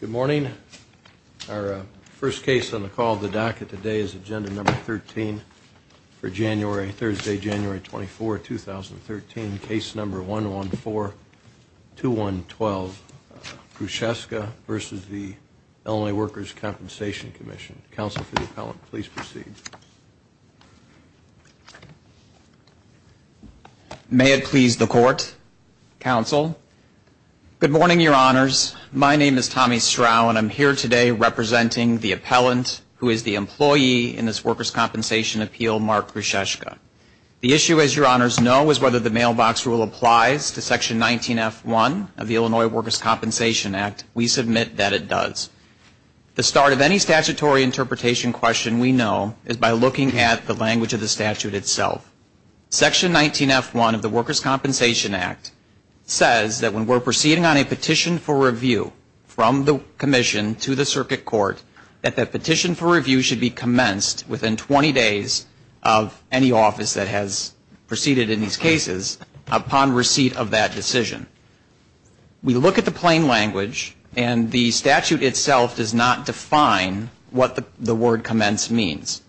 Good morning. Our first case on the call of the DACA today is Agenda Number 13 for January, Thursday, January 24, 2013, Case Number 1142112, Gruszeczka v. Illinois Workers' Compensation Comm'n. Counsel for the appellant, please proceed. May it please the Court, Counsel. Good morning, Your Honors. My name is Tommy Strau and I'm here today representing the appellant who is the employee in this Workers' Compensation Appeal, Mark Gruszeczka. The issue, as Your Honors know, is whether the mailbox rule applies to Section 19F1 of the Language of the Statute itself. Section 19F1 of the Workers' Compensation Act says that when we're proceeding on a petition for review from the Commission to the Circuit Court, that that petition for review should be commenced within 20 days of any office that has proceeded in these cases upon receipt of that decision. We look at the plain language and the statute itself does not define what the word commence means.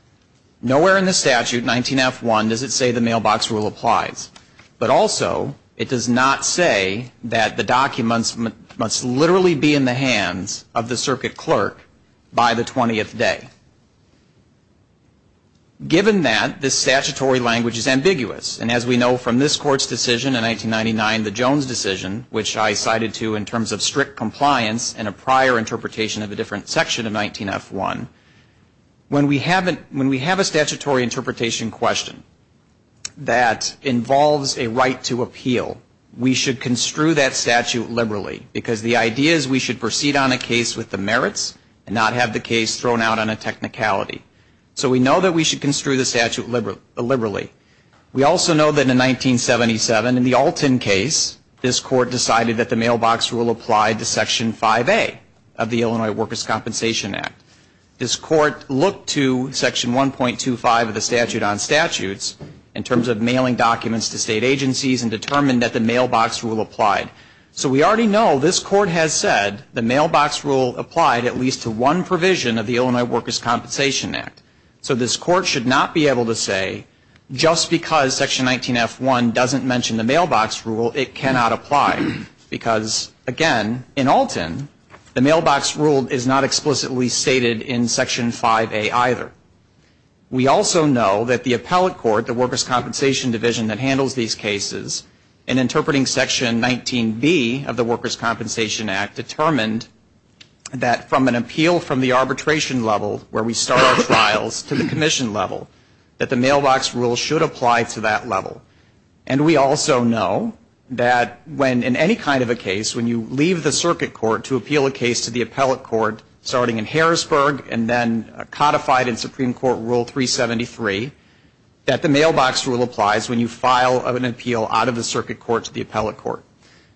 Nowhere in the statute, 19F1, does it say the mailbox rule applies. But also, it does not say that the documents must literally be in the hands of the Circuit Clerk by the 20th day. Given that this statutory language is ambiguous, and as we know from this Court's decision in 1999, the Jones decision, which I cited to in terms of strict compliance and a prior interpretation of a different section of 19F1, when we have a statutory interpretation question that involves a right to appeal, we should So we know that we should construe the statute liberally. We also know that in 1977, in the Alton case, this Court decided that the mailbox rule applied to Section 5A of the Illinois Workers' Compensation Act. This Court looked to Section 1.25 of the Statute on Statutes in terms of mailing documents to state So this Court should not be able to say, just because Section 19F1 doesn't mention the mailbox rule, it cannot apply. Because, again, in Alton, the mailbox rule is not explicitly stated in Section 5A either. We also know that the appellate court, the Workers' Compensation Division that handles these cases, in trials to the commission level, that the mailbox rule should apply to that level. And we also know that when in any kind of a case, when you leave the circuit court to appeal a case to the appellate court, starting in Harrisburg and then codified in Supreme Court Rule 373, that the mailbox rule applies when you file an appeal out of the circuit court to the appellate court.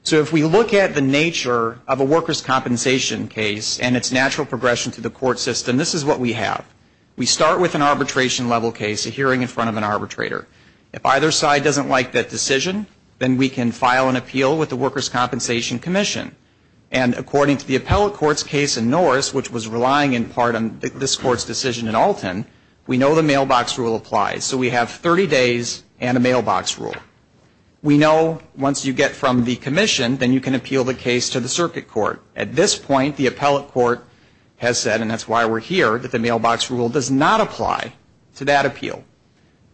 So if we look at the nature of a workers' compensation case and its natural progression to the court system, this is what we have. We start with an arbitration level case, a hearing in front of an arbitrator. If either side doesn't like that decision, then we can file an appeal with the Workers' Compensation Commission. And according to the appellate court's case in Norris, which was relying in part on this Court's decision in Alton, we know the can appeal the case to the circuit court. At this point, the appellate court has said, and that's why we're here, that the mailbox rule does not apply to that appeal.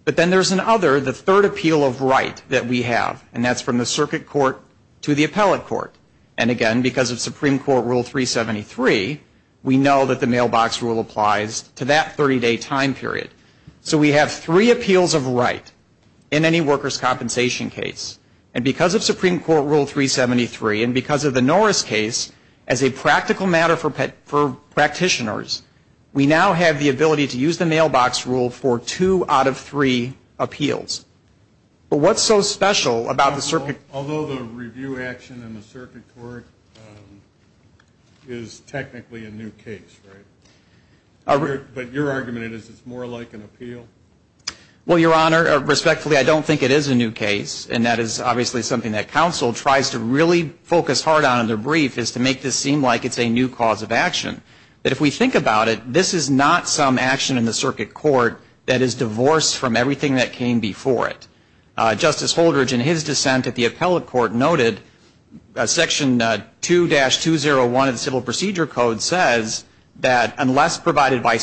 But then there's another, the third appeal of right that we have, and that's from the circuit court to the appellate court. And again, because of Supreme Court Rule 373, we know that the mailbox rule applies to that 30-day time period. So we have three appeals of right in any workers' compensation case. And because of Supreme Court Rule 373, and because of the Norris case, as a practical matter for practitioners, we now have the ability to use the mailbox rule for two out of three appeals. But what's so special about the circuit court? Although the review action in the circuit court is technically a new case, right? But your argument is it's more like an appeal? Well, Your Honor, respectfully, I don't think it is a new case. And that is obviously something that counsel tries to really focus hard on in their brief, is to make this seem like it's a new cause of action. But if we think about it, this is not some action in the circuit court that is divorced from everything that came before it. Justice Holdridge, in his dissent at the appellate court, noted Section 2-201 of the Civil Procedure Code says that unless provided by a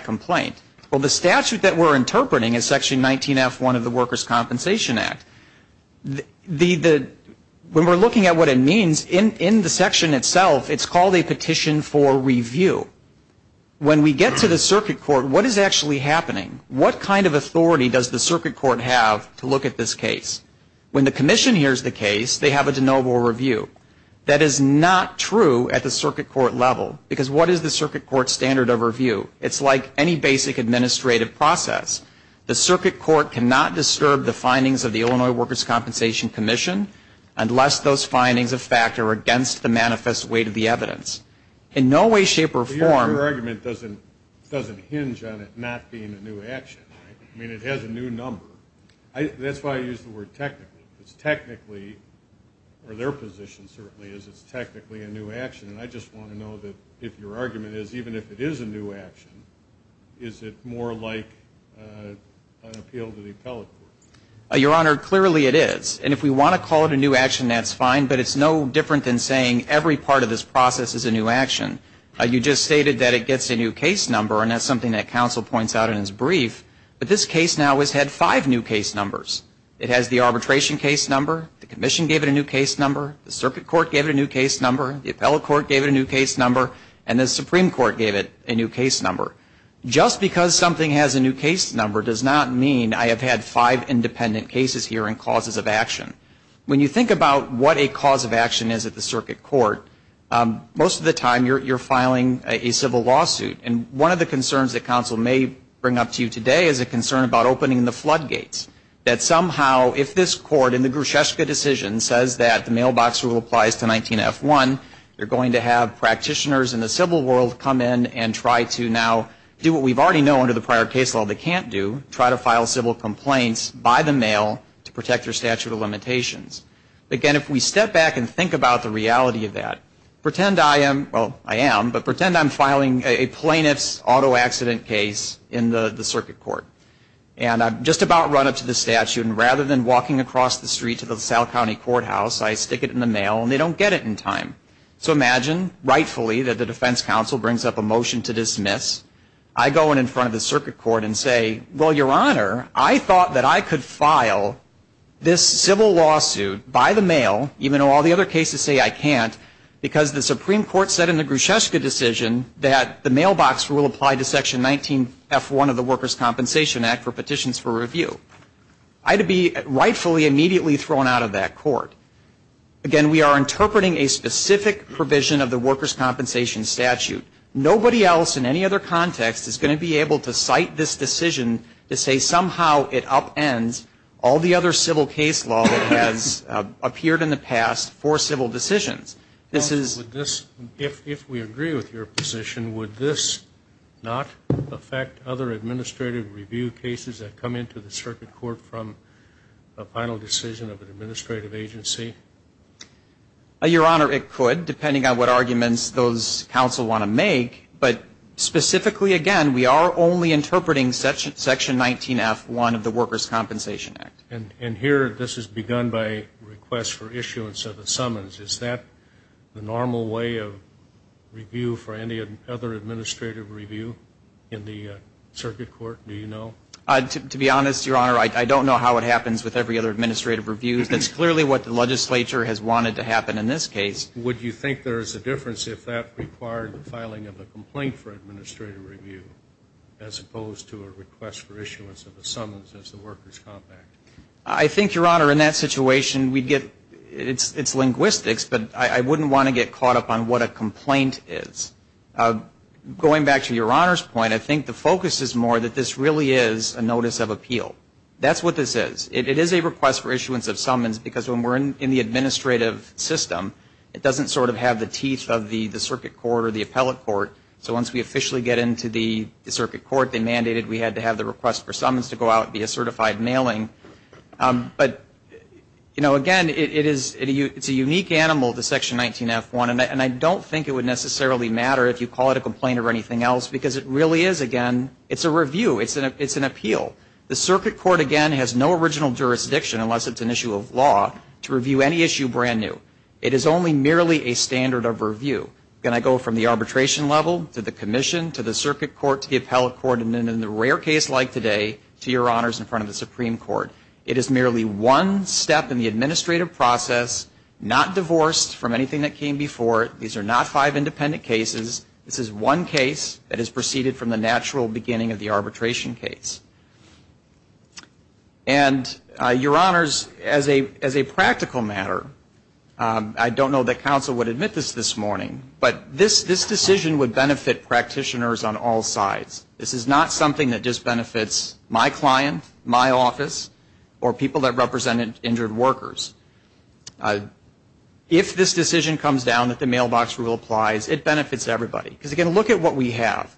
complaint. Well, the statute that we're interpreting is Section 19F1 of the Workers' Compensation Act. When we're looking at what it means, in the section itself, it's called a petition for review. When we get to the circuit court, what is actually happening? What kind of authority does the circuit court have to look at this case? When the commission hears the case, they have a de novo review. That is not true at the circuit court level. Because what is the circuit court standard of review? It's like any basic administrative process. The circuit court cannot disturb the findings of the Illinois Workers' Compensation Commission unless those findings of fact are against the manifest weight of the evidence. In no way, shape, or form. But your argument doesn't hinge on it not being a new action, right? I mean, it has a new number. That's why I use the word technically. Because their position certainly is it's technically a new action. And I just want to know that if your argument is even if it is a new action, is it more like an appeal to the appellate court? Your Honor, clearly it is. And if we want to call it a new action, that's fine. But it's no different than saying every part of this process is a new action. You just stated that it gets a new case number, and that's something that counsel points out in his case number. The circuit court gave it a new case number. The appellate court gave it a new case number. And the Supreme Court gave it a new case number. Just because something has a new case number does not mean I have had five independent cases here and causes of action. When you think about what a cause of action is at the circuit court, most of the time you're filing a civil lawsuit. And one of the concerns that counsel may bring up to you today is a concern about opening the floodgates. That somehow if this court in the Grusheska decision says that the mailbox rule applies to 19F1, you're going to have practitioners in the civil world come in and try to now do what we already know under the prior case law they can't do, try to file civil complaints by the mail to protect their statute of limitations. Again, if we step back and think about the reality of that, pretend I am filing a plaintiff's auto accident case in the circuit court. And I've just about run up to the statute, and rather than walking across the street to the South County Courthouse, I stick it in the mail, and they don't get it in time. So imagine, rightfully, that the defense counsel brings up a motion to dismiss. I go in front of the circuit court and say, well, your Honor, I thought that I could file this civil lawsuit by the mail, even though all the other cases say I can't, because the Supreme Court said in the Grusheska decision that the mailbox rule applied to Section 19F1 of the Workers Compensation Act for petitions for review. I'd be rightfully immediately thrown out of that court. Again, we are interpreting a specific provision of the workers' compensation statute. Nobody else in any other context is going to be able to cite this decision to say somehow it upends all the other civil case law that has appeared in the past for civil decisions. This is ‑‑ If we agree with your position, would this not affect other administrative review cases that come into the circuit court from a final decision of an administrative agency? Your Honor, it could, depending on what arguments those counsel want to make. But specifically, again, we are only interpreting Section 19F1 of the Your Honor, this is begun by a request for issuance of a summons. Is that the normal way of review for any other administrative review in the circuit court? Do you know? To be honest, Your Honor, I don't know how it happens with every other administrative review. That's clearly what the legislature has wanted to happen in this case. Would you think there is a difference if that required the filing of a complaint for administrative review as opposed to a request for issuance of a summons as the workers' compact? I think, Your Honor, in that situation, we'd get ‑‑ it's linguistics, but I wouldn't want to get caught up on what a complaint is. Going back to Your Honor's point, I think the focus is more that this really is a notice of appeal. That's what this is. It is a request for issuance of summons because when we're in the administrative system, it doesn't sort of have the teeth of the circuit court or the appellate court. So once we officially get into the circuit court, they mandated we had to have the request for summons to go out and be a certified mailing. But, you know, again, it is ‑‑ it's a unique animal, the Section 19F1. And I don't think it would necessarily matter if you call it a complaint or anything else because it really is, again, it's a review. It's an appeal. The circuit court, again, has no original jurisdiction unless it's an issue of law to review any issue brand new. It is only merely a standard of review. Again, I go from the arbitration level to the commission to the circuit court to the appellate court and then in a rare case like today to Your Honors in front of the Supreme Court. It is merely one step in the administrative process, not divorced from anything that came before it. These are not five independent cases. This is one case that is a practical matter. I don't know that counsel would admit this this morning, but this decision would benefit practitioners on all sides. This is not something that just benefits my client, my office, or people that represent injured workers. If this decision comes down that the mailbox rule applies, it benefits everybody. Because, again, look at what we have.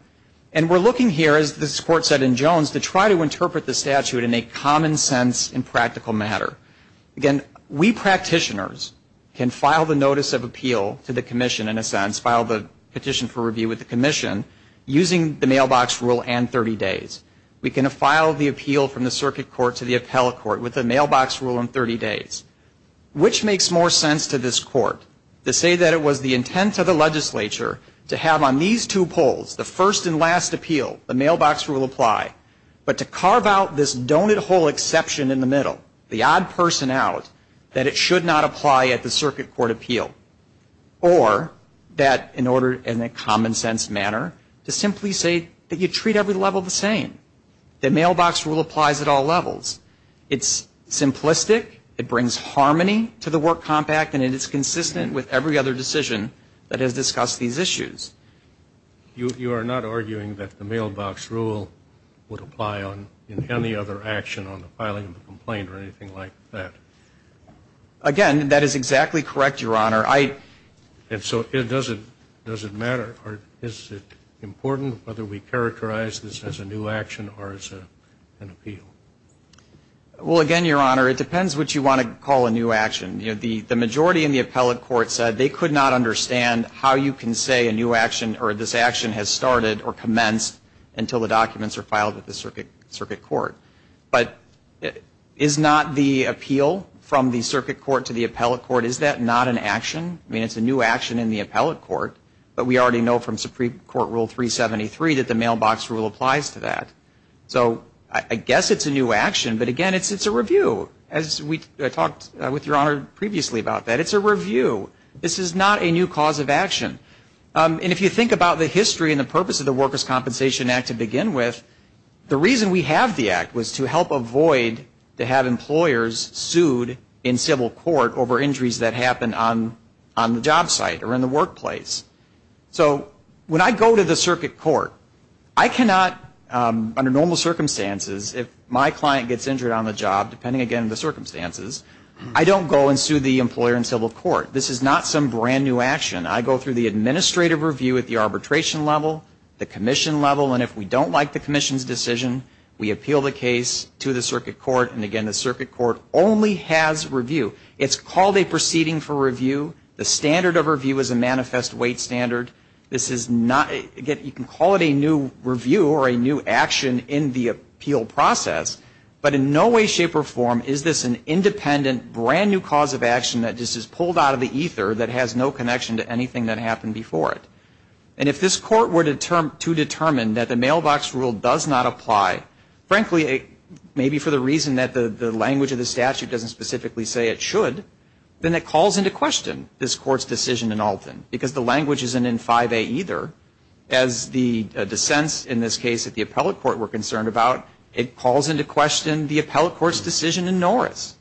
And we're looking here, as this Court said in Jones, to try to again, we practitioners can file the notice of appeal to the commission in a sense, file the petition for review with the commission using the mailbox rule and 30 days. We can file the appeal from the circuit court to the appellate court with the mailbox rule and 30 days. Which makes more sense to this Court? To say that it was the intent of the legislature to have on these two polls, the first and last appeal, the mailbox rule apply. But to carve out this donut hole exception in the middle, the odd person out, that it should not apply at the circuit court appeal. Or that in order, in a common sense manner, to simply say that you treat every level the same. The mailbox rule applies at all levels. It's simplistic, it brings harmony to the work compact, and it is consistent with every other decision that has discussed these issues. You are not arguing that the mailbox rule would apply on any other action on the filing of the complaint or anything like that? Again, that is exactly correct, Your Honor. And so does it matter? Or is it important whether we characterize this as a new action or as an appeal? Well, again, Your Honor, it depends what you want to call a new action. The majority in the appellate court said they could not understand how you can say a new action or this action has started or commenced until the documents are filed at the circuit court. But is not the appeal from the circuit court to the appellate court, is that not an action? I mean, it's a new action in the appellate court, but we already know from Supreme Court Rule 373 that the mailbox rule applies to that. So I guess it's a new action, but again, it's a review. As we talked with Your Honor previously about that, it's a review. This is not a new cause of action. And if you think about the history and the purpose of the Workers' Compensation Act to begin with, the reason we have the act was to help avoid to have employers sued in civil court over injuries that happen on the job site or in the workplace. So when I go to the circuit court, I cannot, under normal circumstances, if my client gets injured on the job, depending again on the nature of the injury, I cannot appeal the case to them in civil court. This is not some brand-new action. I go through the administrative review at the arbitration level, the commission level, and if we don't like the commission's decision, we appeal the case to the circuit court. And again, the circuit court only has review. It's called a proceeding for review. The standard of review is a manifest weight standard. This is not, again, you can call it a new review or a new action in the appeal process, but in no way, shape, or form is this an independent, brand-new cause of action that just is pulled out of the ether that has no connection to anything that happened before it. And if this court were to determine that the mailbox rule does not apply, frankly, maybe for the reason that the language of the statute doesn't specifically say it should, then it calls into question this court's decision in 5A either. As the dissents in this case at the appellate court were concerned about, it calls into question the appellate court's decision in Norris.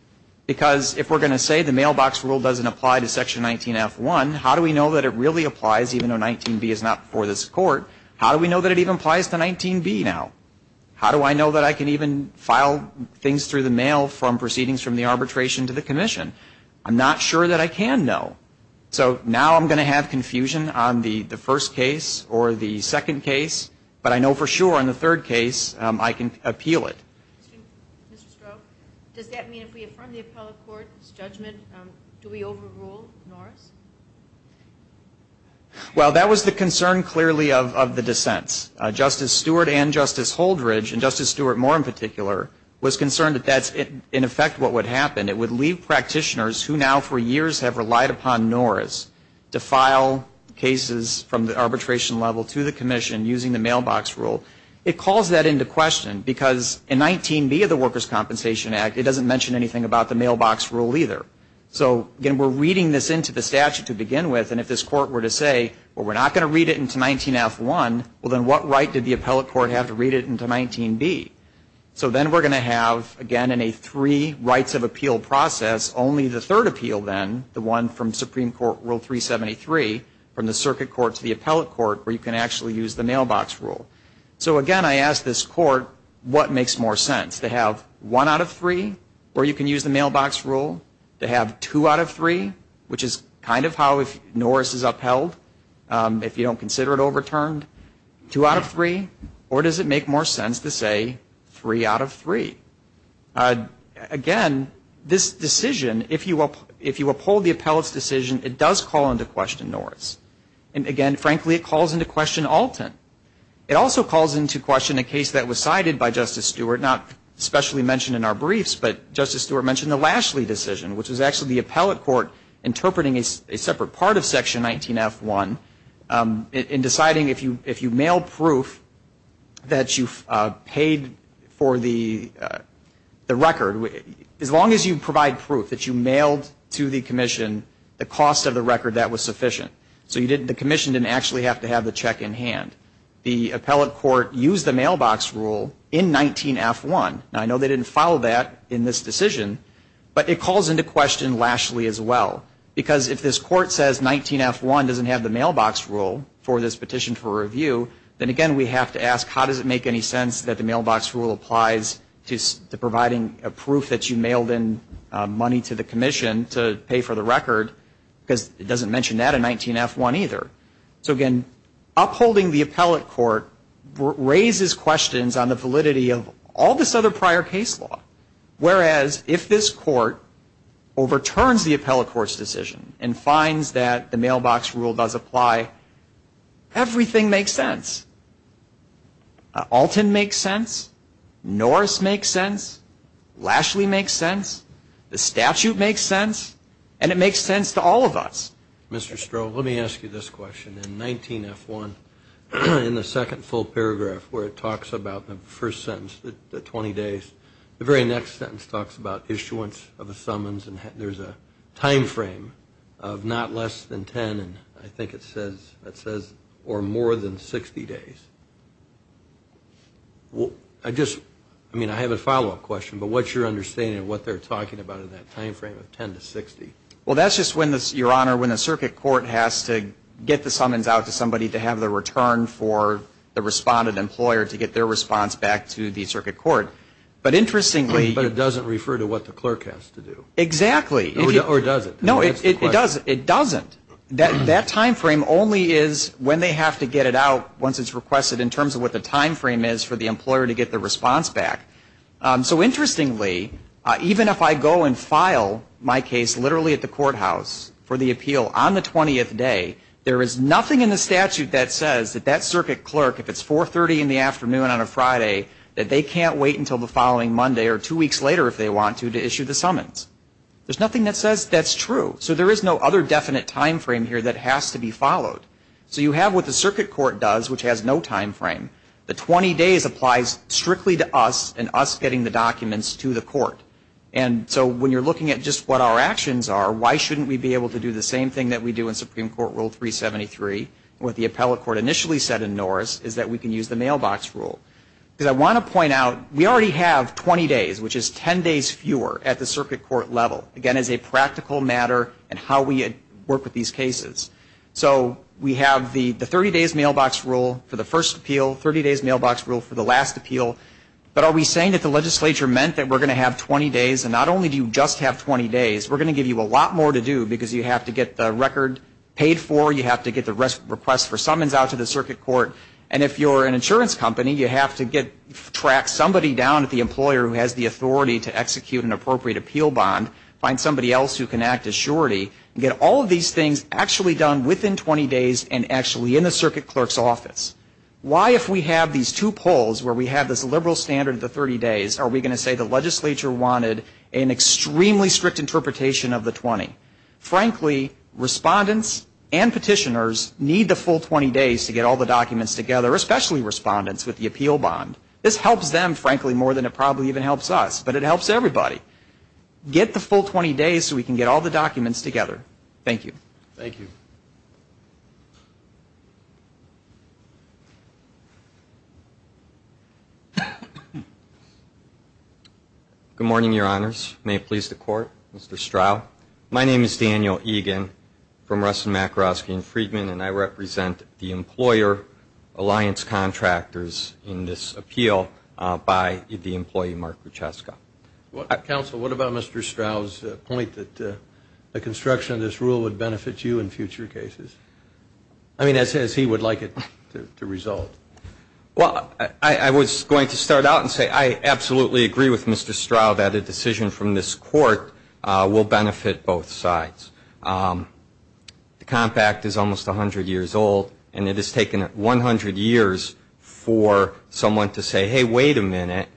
Because if we're going to say the mailbox rule doesn't apply to Section 19F1, how do we know that it really applies, even though 19B is not for this court? How do we know that it even applies to 19B now? How do I know that I can even file things through the mail from proceedings from the first case or the second case, but I know for sure in the third case I can appeal it? Ms. Stroh, does that mean if we affirm the appellate court's judgment, do we overrule Norris? Well, that was the concern, clearly, of the dissents. Justice Stewart and Justice Holdridge, and Justice Stewart more in particular, was concerned that that's, in effect, what would happen. It would leave practitioners who now, for years, have relied upon Norris to file cases that are from the arbitration level to the commission using the mailbox rule. It calls that into question, because in 19B of the Workers' Compensation Act, it doesn't mention anything about the mailbox rule either. So, again, we're reading this into the statute to begin with, and if this court were to say, well, we're not going to read it into 19F1, well, then what right did the appellate court have to read it into 19B? So then we're going to have, again, in a three rights of appeal process, only the third appeal then, the one from Supreme Court Rule 373, from the circuit court's the appellate court, where you can actually use the mailbox rule. So, again, I ask this court, what makes more sense? To have one out of three, or you can use the mailbox rule? To have two out of three, which is kind of how Norris is upheld, if you don't consider it overturned? Two out of three? Or does it make more sense to say three out of three? Again, this decision, if you uphold the appellate's decision, it does call into question Norris. And, frankly, it calls into question Alton. It also calls into question a case that was cited by Justice Stewart, not especially mentioned in our briefs, but Justice Stewart mentioned the Lashley decision, which was actually the appellate court interpreting a separate part of Section 19F1 in deciding if you mail proof that you paid for the record, as long as you provide proof that you mailed to the commission the cost of the record that was sufficient. So you didn't, the commission didn't actually have to have the check in hand. The appellate court used the mailbox rule in 19F1. Now, I know they didn't follow that in this decision, but it calls into question Lashley as well. Because if this court says 19F1 doesn't have the mailbox rule for this petition for review, then, again, we have to ask, how does it make any sense that the mailbox rule applies to providing a proof that you mailed in to pay for the record, because it doesn't mention that in 19F1 either. So, again, upholding the appellate court raises questions on the validity of all this other prior case law. Whereas, if this court overturns the appellate court's decision and finds that the mailbox rule does apply, everything makes sense. Alton makes sense. Norris makes sense. Lashley makes sense. The statute makes sense. And, again, it calls into question the validity of all of this prior case law. And it makes sense to all of us. Mr. Stroh, let me ask you this question. In 19F1, in the second full paragraph where it talks about the first sentence, the 20 days, the very next sentence talks about issuance of a summons, and there's a time frame of not less than 10, and I think it says, or more than 60 days. I just, I mean, I have a follow-up question, but what's your understanding of what they're talking about in that time frame of 10 to 60? Well, that's just when, Your Honor, when the circuit court has to get the summons out to somebody to have the return for the responded employer to get their response back to the circuit court. But, interestingly... But it doesn't refer to what the clerk has to do. Exactly. Or does it? No, it doesn't. That time frame only is when they have to get it out once it's requested in terms of what the time frame is for the employer to get their response back. So, interestingly, even if I go and file my case literally at the courthouse for the appeal on the 20th day, there is nothing in the statute that says that that circuit clerk, if it's 4.30 in the afternoon on a Friday, that they can't wait until the following Monday or two weeks later if they want to to issue the summons. There's nothing that says that's true. So there is no other definite time frame here that has to be referred strictly to us and us getting the documents to the court. And so when you're looking at just what our actions are, why shouldn't we be able to do the same thing that we do in Supreme Court Rule 373, what the appellate court initially said in Norris, is that we can use the mailbox rule. Because I want to point out, we already have 20 days, which is 10 days fewer at the circuit court level. Again, as a practical matter in how we work with these cases. So we have the 30 days mailbox rule for the first appeal, 30 days mailbox rule for the last appeal, 30 days mailbox rule for the last appeal. But are we saying that the legislature meant that we're going to have 20 days, and not only do you just have 20 days, we're going to give you a lot more to do, because you have to get the record paid for, you have to get the request for summons out to the circuit court, and if you're an insurance company, you have to get, track somebody down at the employer who has the authority to execute an appropriate appeal bond, find somebody else who can act as surety, and get all of these things actually done within 20 days and actually in the circuit clerk's office. Why, if we have these two polls where we have this liberal standard of the 30 days, are we going to say the legislature wanted an extremely strict interpretation of the 20? Frankly, respondents and petitioners need the full 20 days to get all the documents together, especially respondents with the appeal bond. This helps them, frankly, more than it probably even helps us, but it helps everybody. Get the full 20 days so we can get all the documents together. Thank you. Good morning, your honors. May it please the court. Mr. Strau. My name is Daniel Egan from Ruston-Makarovsky and Friedman, and I represent the employer alliance contractors in this appeal by the employee Mark Grucheska. Counsel, what about Mr. Strau's point that the construction of this rule would benefit you in future cases? I mean, as he would like it to result. Well, I was going to start out and say I absolutely agree with Mr. Strau that a decision from this court will benefit both sides. The Comp Act is almost 100 years old, and it has taken 100 years for someone to say, hey, wait a minute,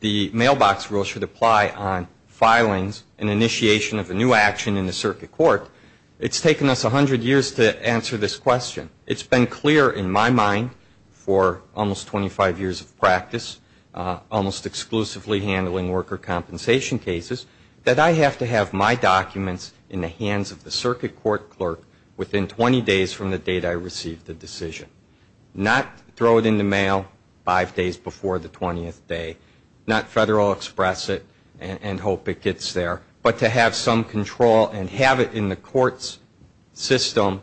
the mailbox rule should apply on filings and initiation of a new action in the circuit court. It's taken us 100 years to answer this question. It's been clear for in my mind for almost 25 years of practice, almost exclusively handling worker compensation cases, that I have to have my documents in the hands of the circuit court clerk within 20 days from the date I receive the decision. Not throw it in the mail five days before the 20th day, not federal express it and hope it gets there, but to have some control and have it in the court's system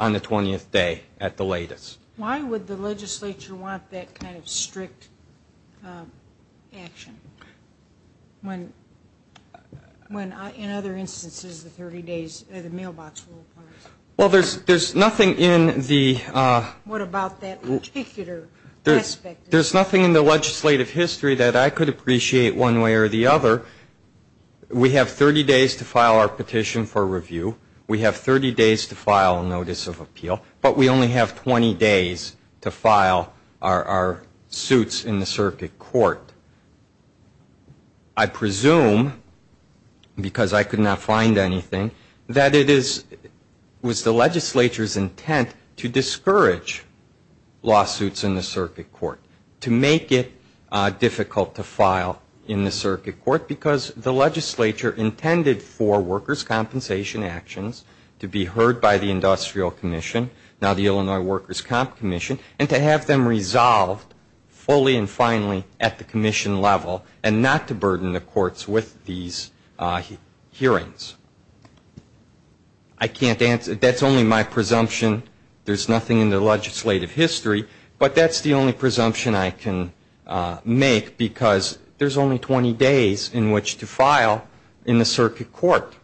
on the 20th day at the latest. Why would the legislature want that kind of strict action when in other instances the 30 days, the mailbox rule applies? Well, there's nothing in the What about that particular aspect? There's nothing in the legislative history that I could appreciate one way or the other. We have 30 days to file our petition for review. We have 30 days to file a notice of appeal, but we only have 20 days to file a lawsuit in the circuit court. I presume, because I could not find anything, that it was the legislature's intent to discourage lawsuits in the circuit court, to make it difficult to file in the circuit court, because the legislature intended for workers' compensation actions to be heard by the industrial commission, now the Illinois Workers' Comp Commission, and to have them resolved fully and finally at the commission level and not to burden the courts with these hearings. I can't answer. That's only my presumption. There's nothing in the legislative history, but that's the only presumption I can make, because there's only 20 days in which to file in the circuit court.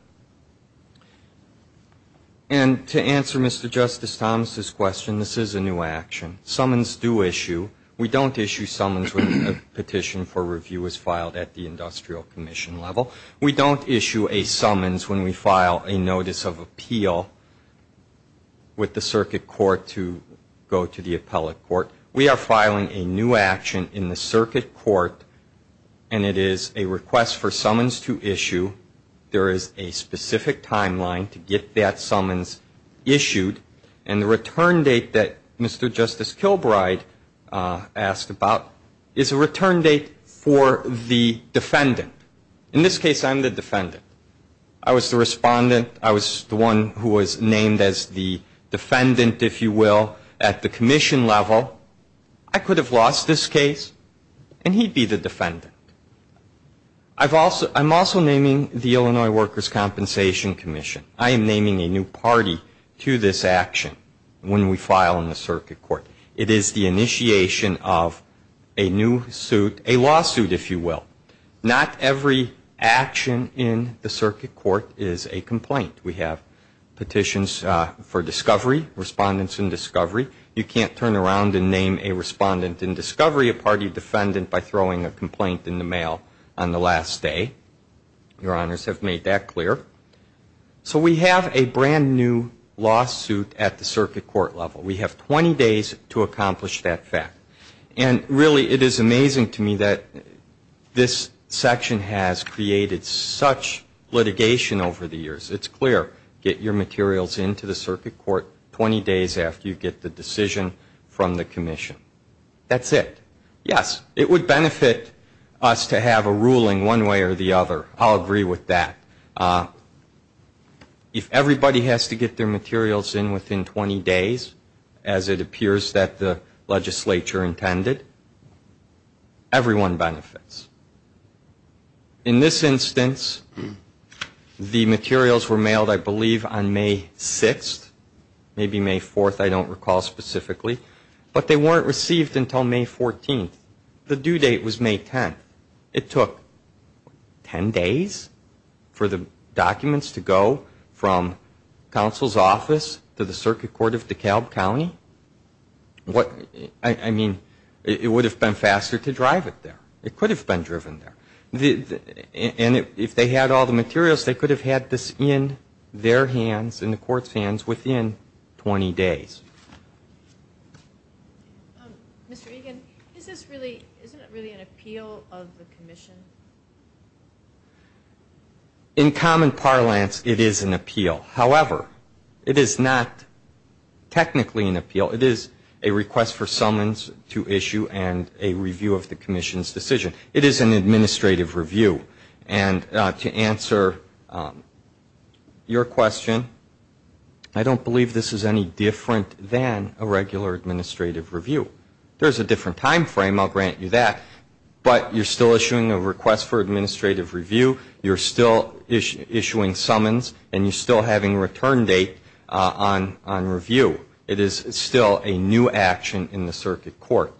And to answer Mr. Justice Thomas' question, this is a new action. Summons do issue. We don't issue summons when a petition for review is filed at the industrial commission level. We don't issue a summons when we file a notice of appeal with the circuit court to go to the appellate court. We are filing a new action in the circuit court, and it is a request for summons to issue. There is a notice of appeal in the circuit court, and we have a specific timeline to get that summons issued. And the return date that Mr. Justice Kilbride asked about is a return date for the defendant. In this case, I'm the defendant. I was the respondent. I was the one who was named as the defendant, if you will, at the commission level. I could have lost this case, and he'd be the defendant. I'm also naming the Illinois Workers' Compensation Commission. I am naming a new party to this action when we file in the circuit court. It is the initiation of a new suit, a lawsuit, if you will. Not every action in the circuit court is a complaint. We have petitions for discovery, respondents in discovery. You can't turn around and name a respondent in discovery a party defendant by throwing a complaint in the mail on the last day. Your honors have made that clear. So we have a brand-new lawsuit at the circuit court level. We have 20 days to accomplish that fact. And really, it is amazing to me that this section has created such litigation over the years. It's clear. Get your materials into the circuit court 20 days after you get the decision from the commission. That's it. Yes, it would benefit us to have a ruling one way or the other. I'll agree with that. If everybody has to get their materials in within 20 days, as it appears that the legislature intended, everyone benefits. In this instance, the materials were mailed, I believe, on May 6th, maybe May 4th, I don't recall specifically. But they weren't received until May 14th. The due date was May 10th. It took 10 days for the documents to go from counsel's office to the circuit court of DeKalb County? I mean, it would have been faster to drive it there. It could have been driven there. And if they had all the materials, they could have had this in their hands, in the court's hands, within 20 days. Mr. Egan, isn't this really an appeal of the commission? In common parlance, it is an appeal. However, it is not technically an appeal. It is a request for summons to issue and a review of the commission's decision. It is an administrative review. And to answer your question, I don't believe this is any different than a regular administrative review. There's a different time frame, I'll grant you that. But you're still issuing a request for administrative review. You're still issuing summons. And you're still having return date on review. It is still a new action in the circuit court.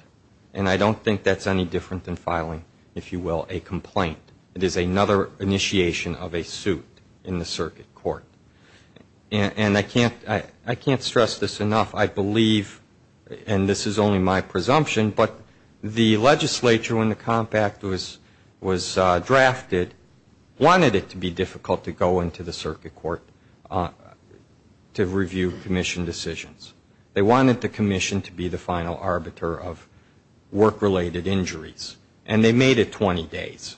And I don't think that's any different than filing, if you will, a complaint. It is another initiation of a suit in the circuit court. And I can't stress this enough. I believe, and this is only my presumption, but the legislature, when the COMP Act was drafted, wanted it to be difficult to go into the circuit court to review commission decisions. They wanted the commission to be the final arbiter of work-related injuries. And they made it 20 days.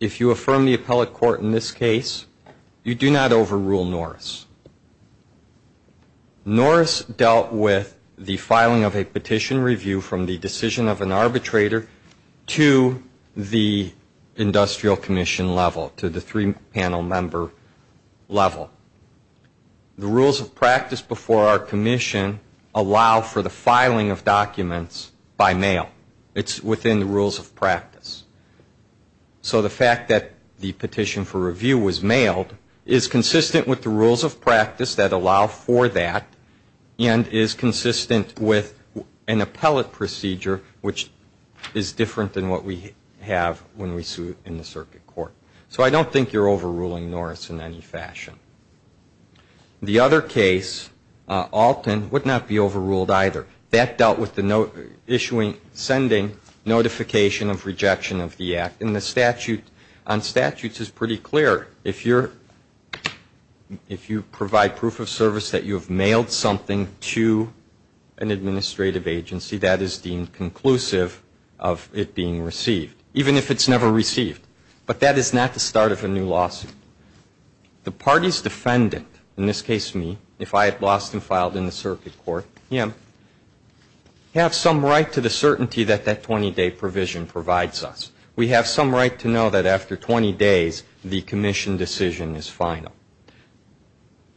If you affirm the appellate court in this case, you do not overrule Norris. Norris dealt with the filing of a petition review from the decision of an arbitrator to the industrial commission level, to the three-panel member level. The rules of practice before our review were that the petition was to be reviewed. It's not to review documents by mail. It's within the rules of practice. So the fact that the petition for review was mailed is consistent with the rules of practice that allow for that, and is consistent with an appellate procedure, which is different than what we have when we sue in the circuit court. So I don't think you're overruling Norris in any fashion. The other case, Alton, would not be overruled either. That dealt with the issuing, sending notification of rejection of the Act. And the statute, on statutes, is pretty clear. If you're, if you provide proof of service that you have mailed something to an administrative agency, that is deemed conclusive of it being received, even if it's never received. But that is not the start of a new lawsuit. The party's defendant, in this case me, if I had lost and filed in the circuit court, him, have some right to the certainty that that 20-day provision provides us. We have some right to know that after 20 days, the commission decision is final.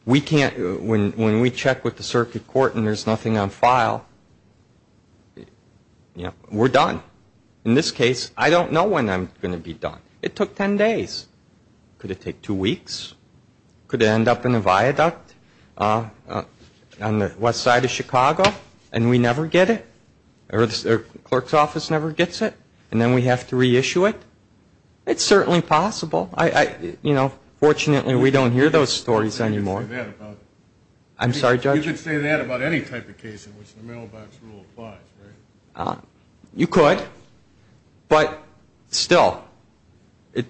We can't, when we check with the circuit court and there's nothing on file, you know, we're done. In this case, I don't know when I'm going to be released. We have to wait 10 days. Could it take two weeks? Could it end up in a viaduct on the west side of Chicago and we never get it? Or the clerk's office never gets it? And then we have to reissue it? It's certainly possible. You know, fortunately, we don't hear those stories anymore. I'm sorry, Judge? You could say that about any type of case in which the mailbox rule applies.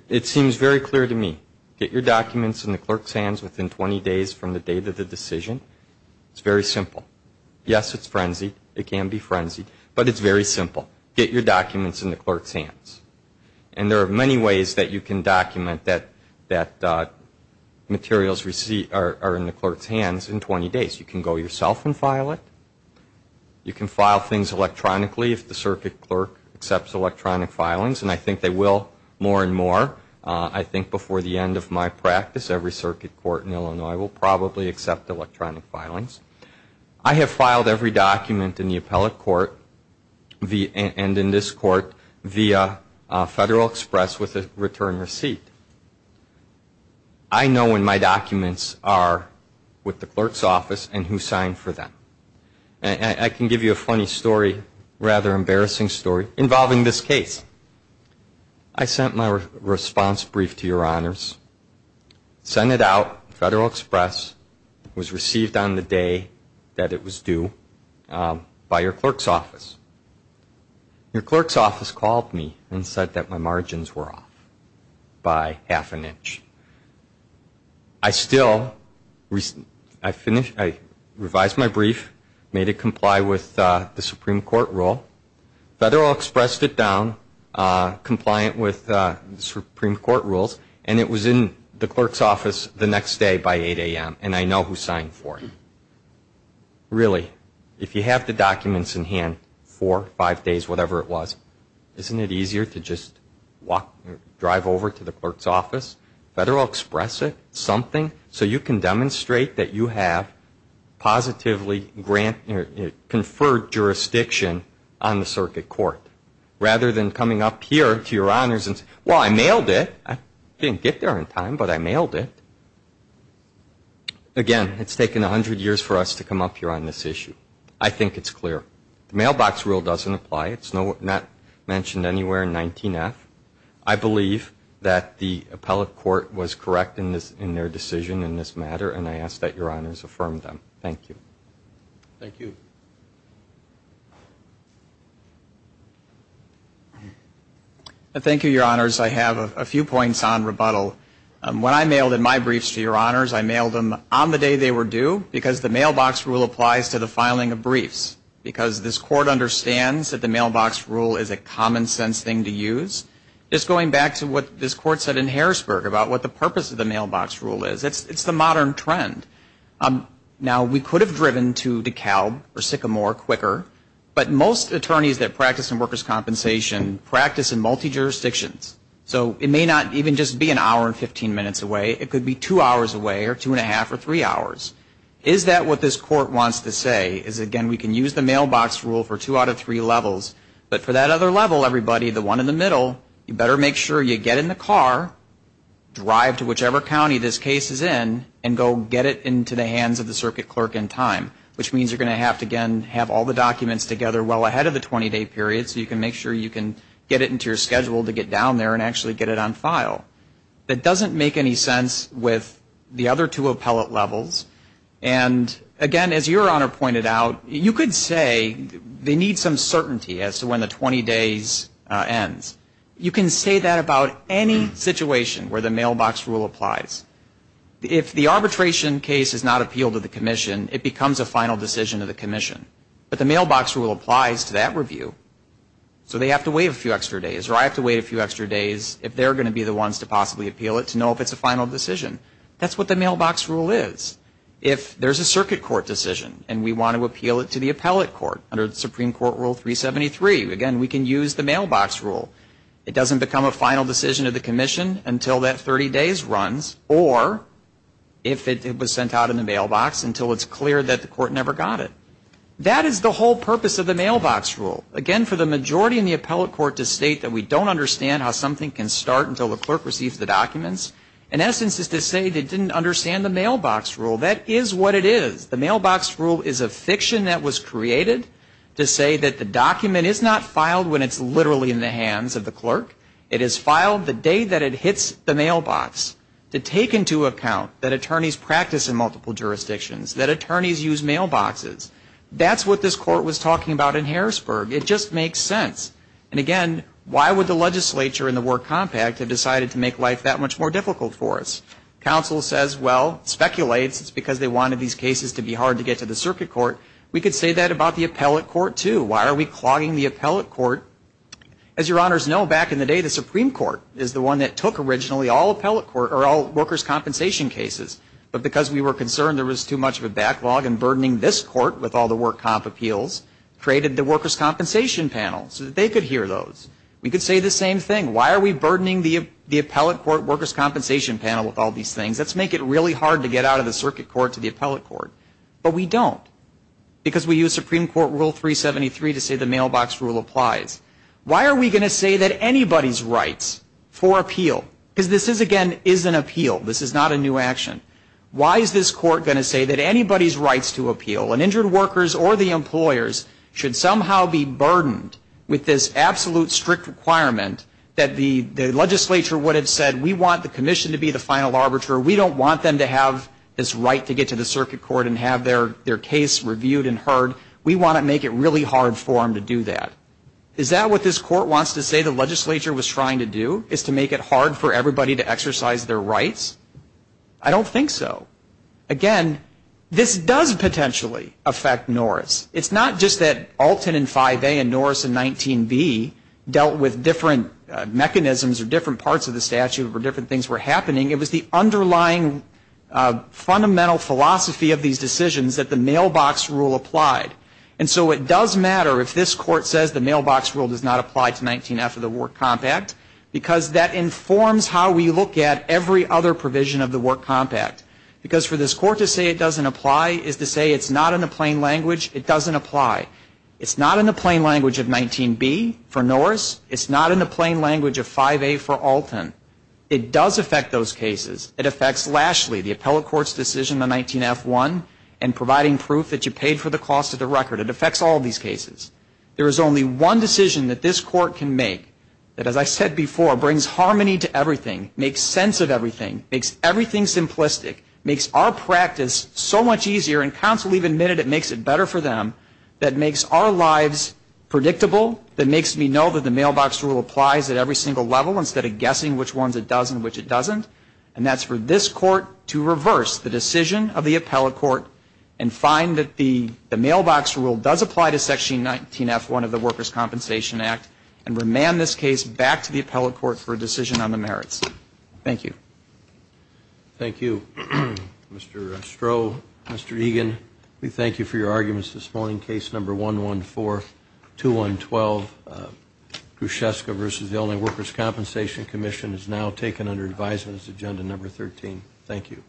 It seems very clear to me. Get your documents in the clerk's hands within 20 days from the date of the decision. It's very simple. Yes, it's frenzied. It can be frenzied. But it's very simple. Get your documents in the clerk's hands. And there are many ways that you can document that materials received are in the clerk's hands in 20 days. You can go yourself and file it. You can file things electronically if the circuit clerk accepts electronic filings. And I think they will more and more. I'm not sure that I think before the end of my practice every circuit court in Illinois will probably accept electronic filings. I have filed every document in the appellate court and in this court via Federal Express with a return receipt. I know when my documents are with the clerk's office and who signed for them. And I can give you a funny story, rather embarrassing story, involving this case. I sent my responsibility to the clerk's office to your honors. Sent it out, Federal Express, was received on the day that it was due by your clerk's office. Your clerk's office called me and said that my margins were off by half an inch. I still, I revised my brief, made it comply with the Supreme Court rules and it was in the clerk's office the next day by 8 a.m. And I know who signed for it. Really, if you have the documents in hand four, five days, whatever it was, isn't it easier to just drive over to the clerk's office, Federal Express it, something, so you can demonstrate that you have positively conferred jurisdiction on the circuit court rather than coming up here to your honors and say, well, I mailed it. I didn't get there in time, but I mailed it. Again, it's taken a hundred years for us to come up here on this issue. I think it's clear. The mailbox rule doesn't apply. It's not mentioned anywhere in 19F. I believe that the appellate court was correct in their decision in this matter and I ask that your honors affirm them. Thank you. Thank you, your honors. I have a few points on rebuttal. When I mailed in my briefs to your honors, I mailed them on the day they were due because the mailbox rule applies to the filing of briefs. Because this court understands that the mailbox rule is a common sense thing to use. Just going back to what this court said in Harrisburg about what the purpose of the mailbox rule is. It's the modern trend. Now, we could have driven to DeKalb or Sycamore quicker, but most attorneys that practice the workers' compensation practice in multi-jurisdictions. So it may not even just be an hour and 15 minutes away. It could be two hours away or two and a half or three hours. Is that what this court wants to say is, again, we can use the mailbox rule for two out of three levels, but for that other level, everybody, the one in the middle, you better make sure you get in the car, drive to whichever county this case is in, and go get it into the hands of the circuit clerk in time, which means you're going to have to have all the documents together well ahead of the 20-day period so you can make sure you can get it into your schedule to get down there and actually get it on file. That doesn't make any sense with the other two appellate levels. And again, as your Honor pointed out, you could say they need some certainty as to when the 20 days ends. You can say that about any situation where the mailbox rule applies. If the arbitration case is not appealed to the commission, it becomes a final decision of the commission. But the mailbox rule applies to that review. So they have to wait a few extra days, or I have to wait a few extra days if they're going to be the ones to possibly appeal it to know if it's a final decision. That's what the mailbox rule is. If there's a circuit court decision and we want to appeal it to the appellate court under Supreme Court Rule 373, again, we can use the mailbox rule. It doesn't become a final decision of the commission until that 30 days runs, or if it was sent out in the mailbox until it's clear that the court never got it. That is the whole purpose of the mailbox rule. Again, for the majority in the appellate court to state that we don't understand how something can start until the clerk receives the documents, in essence is to say they didn't understand the mailbox rule. That is what it is. The mailbox rule is a fiction that was created to say that the document is not filed when it's literally in the hands of the clerk. It is filed the day that it hits the mailbox to take into account that attorneys practice in multiple jurisdictions, that attorneys use mailboxes. That's what this court was talking about in Harrisburg. It just makes sense. And again, why would the legislature and the work compact have decided to make life that much more difficult for us? Counsel says, well, speculates, it's because they wanted these cases to be hard to get to the circuit court. We could say that about the appellate court too. Why are we clogging the appellate court? As your honors know, back in the day, the Supreme Court is the one that took originally all workers' compensation cases. But because we were concerned there was too much of a backlog and burdening this court with all the work comp appeals, created the workers' compensation panel so that they could hear those. We could say the same thing. Why are we burdening the appellate court workers' compensation panel with all these things? Let's make it really hard to get out of the circuit court to the appellate court. But we don't. Because we use Supreme Court Rule 373 to say the mailbox rule applies. Why are we going to say that anybody's rights for appeal? Because this is, again, is an appeal. This is not a new action. Why is this court going to say that anybody's rights to appeal, an injured workers or the employers, should somehow be burdened with this absolute strict requirement that the legislature would have said, we want the commission to be the final arbiter. We don't want them to have this right to get to the circuit court and have their case reviewed and heard. We want to make it really hard for them to do that. Is that what this court wants to say the legislature was trying to do, is to make it hard for everybody to exercise their rights? I don't think so. Again, this does potentially affect Norris. It's not just that Alton in 5A and Norris in 19B dealt with different mechanisms or different parts of the statute where different things were happening. It was the underlying fundamental philosophy of these decisions that the mailbox rule applied. And so it does matter if this court says the mailbox rule does not apply to 19F of the Work Compact, because that informs how we look at every other provision of the Work Compact. Because for this court to say it doesn't apply is to say it's not in the plain language, it doesn't apply. It's not in the plain language of 19B for Norris. It's not in the plain language of 5A for Alton. It does affect those cases. It affects Lashley, the appellate court's decision on 19F1. And providing proof that you paid for the cost of the record. It affects all these cases. There is only one decision that this court can make that, as I said before, brings harmony to everything, makes sense of everything, makes everything simplistic, makes our practice so much easier and counsel even admitted it makes it better for them, that makes our lives predictable, that makes me know that the mailbox rule applies at every single level instead of guessing which ones it does and which it doesn't. And that's for this court to look at and find that the mailbox rule does apply to section 19F1 of the Workers' Compensation Act and remand this case back to the appellate court for a decision on the merits. Thank you. Thank you. Mr. Stroh, Mr. Egan, we thank you for your arguments this morning. Case number 1142112, Grusheska v. Illinois Workers' Compensation Commission is now taken under advisement as agenda number 13. Thank you.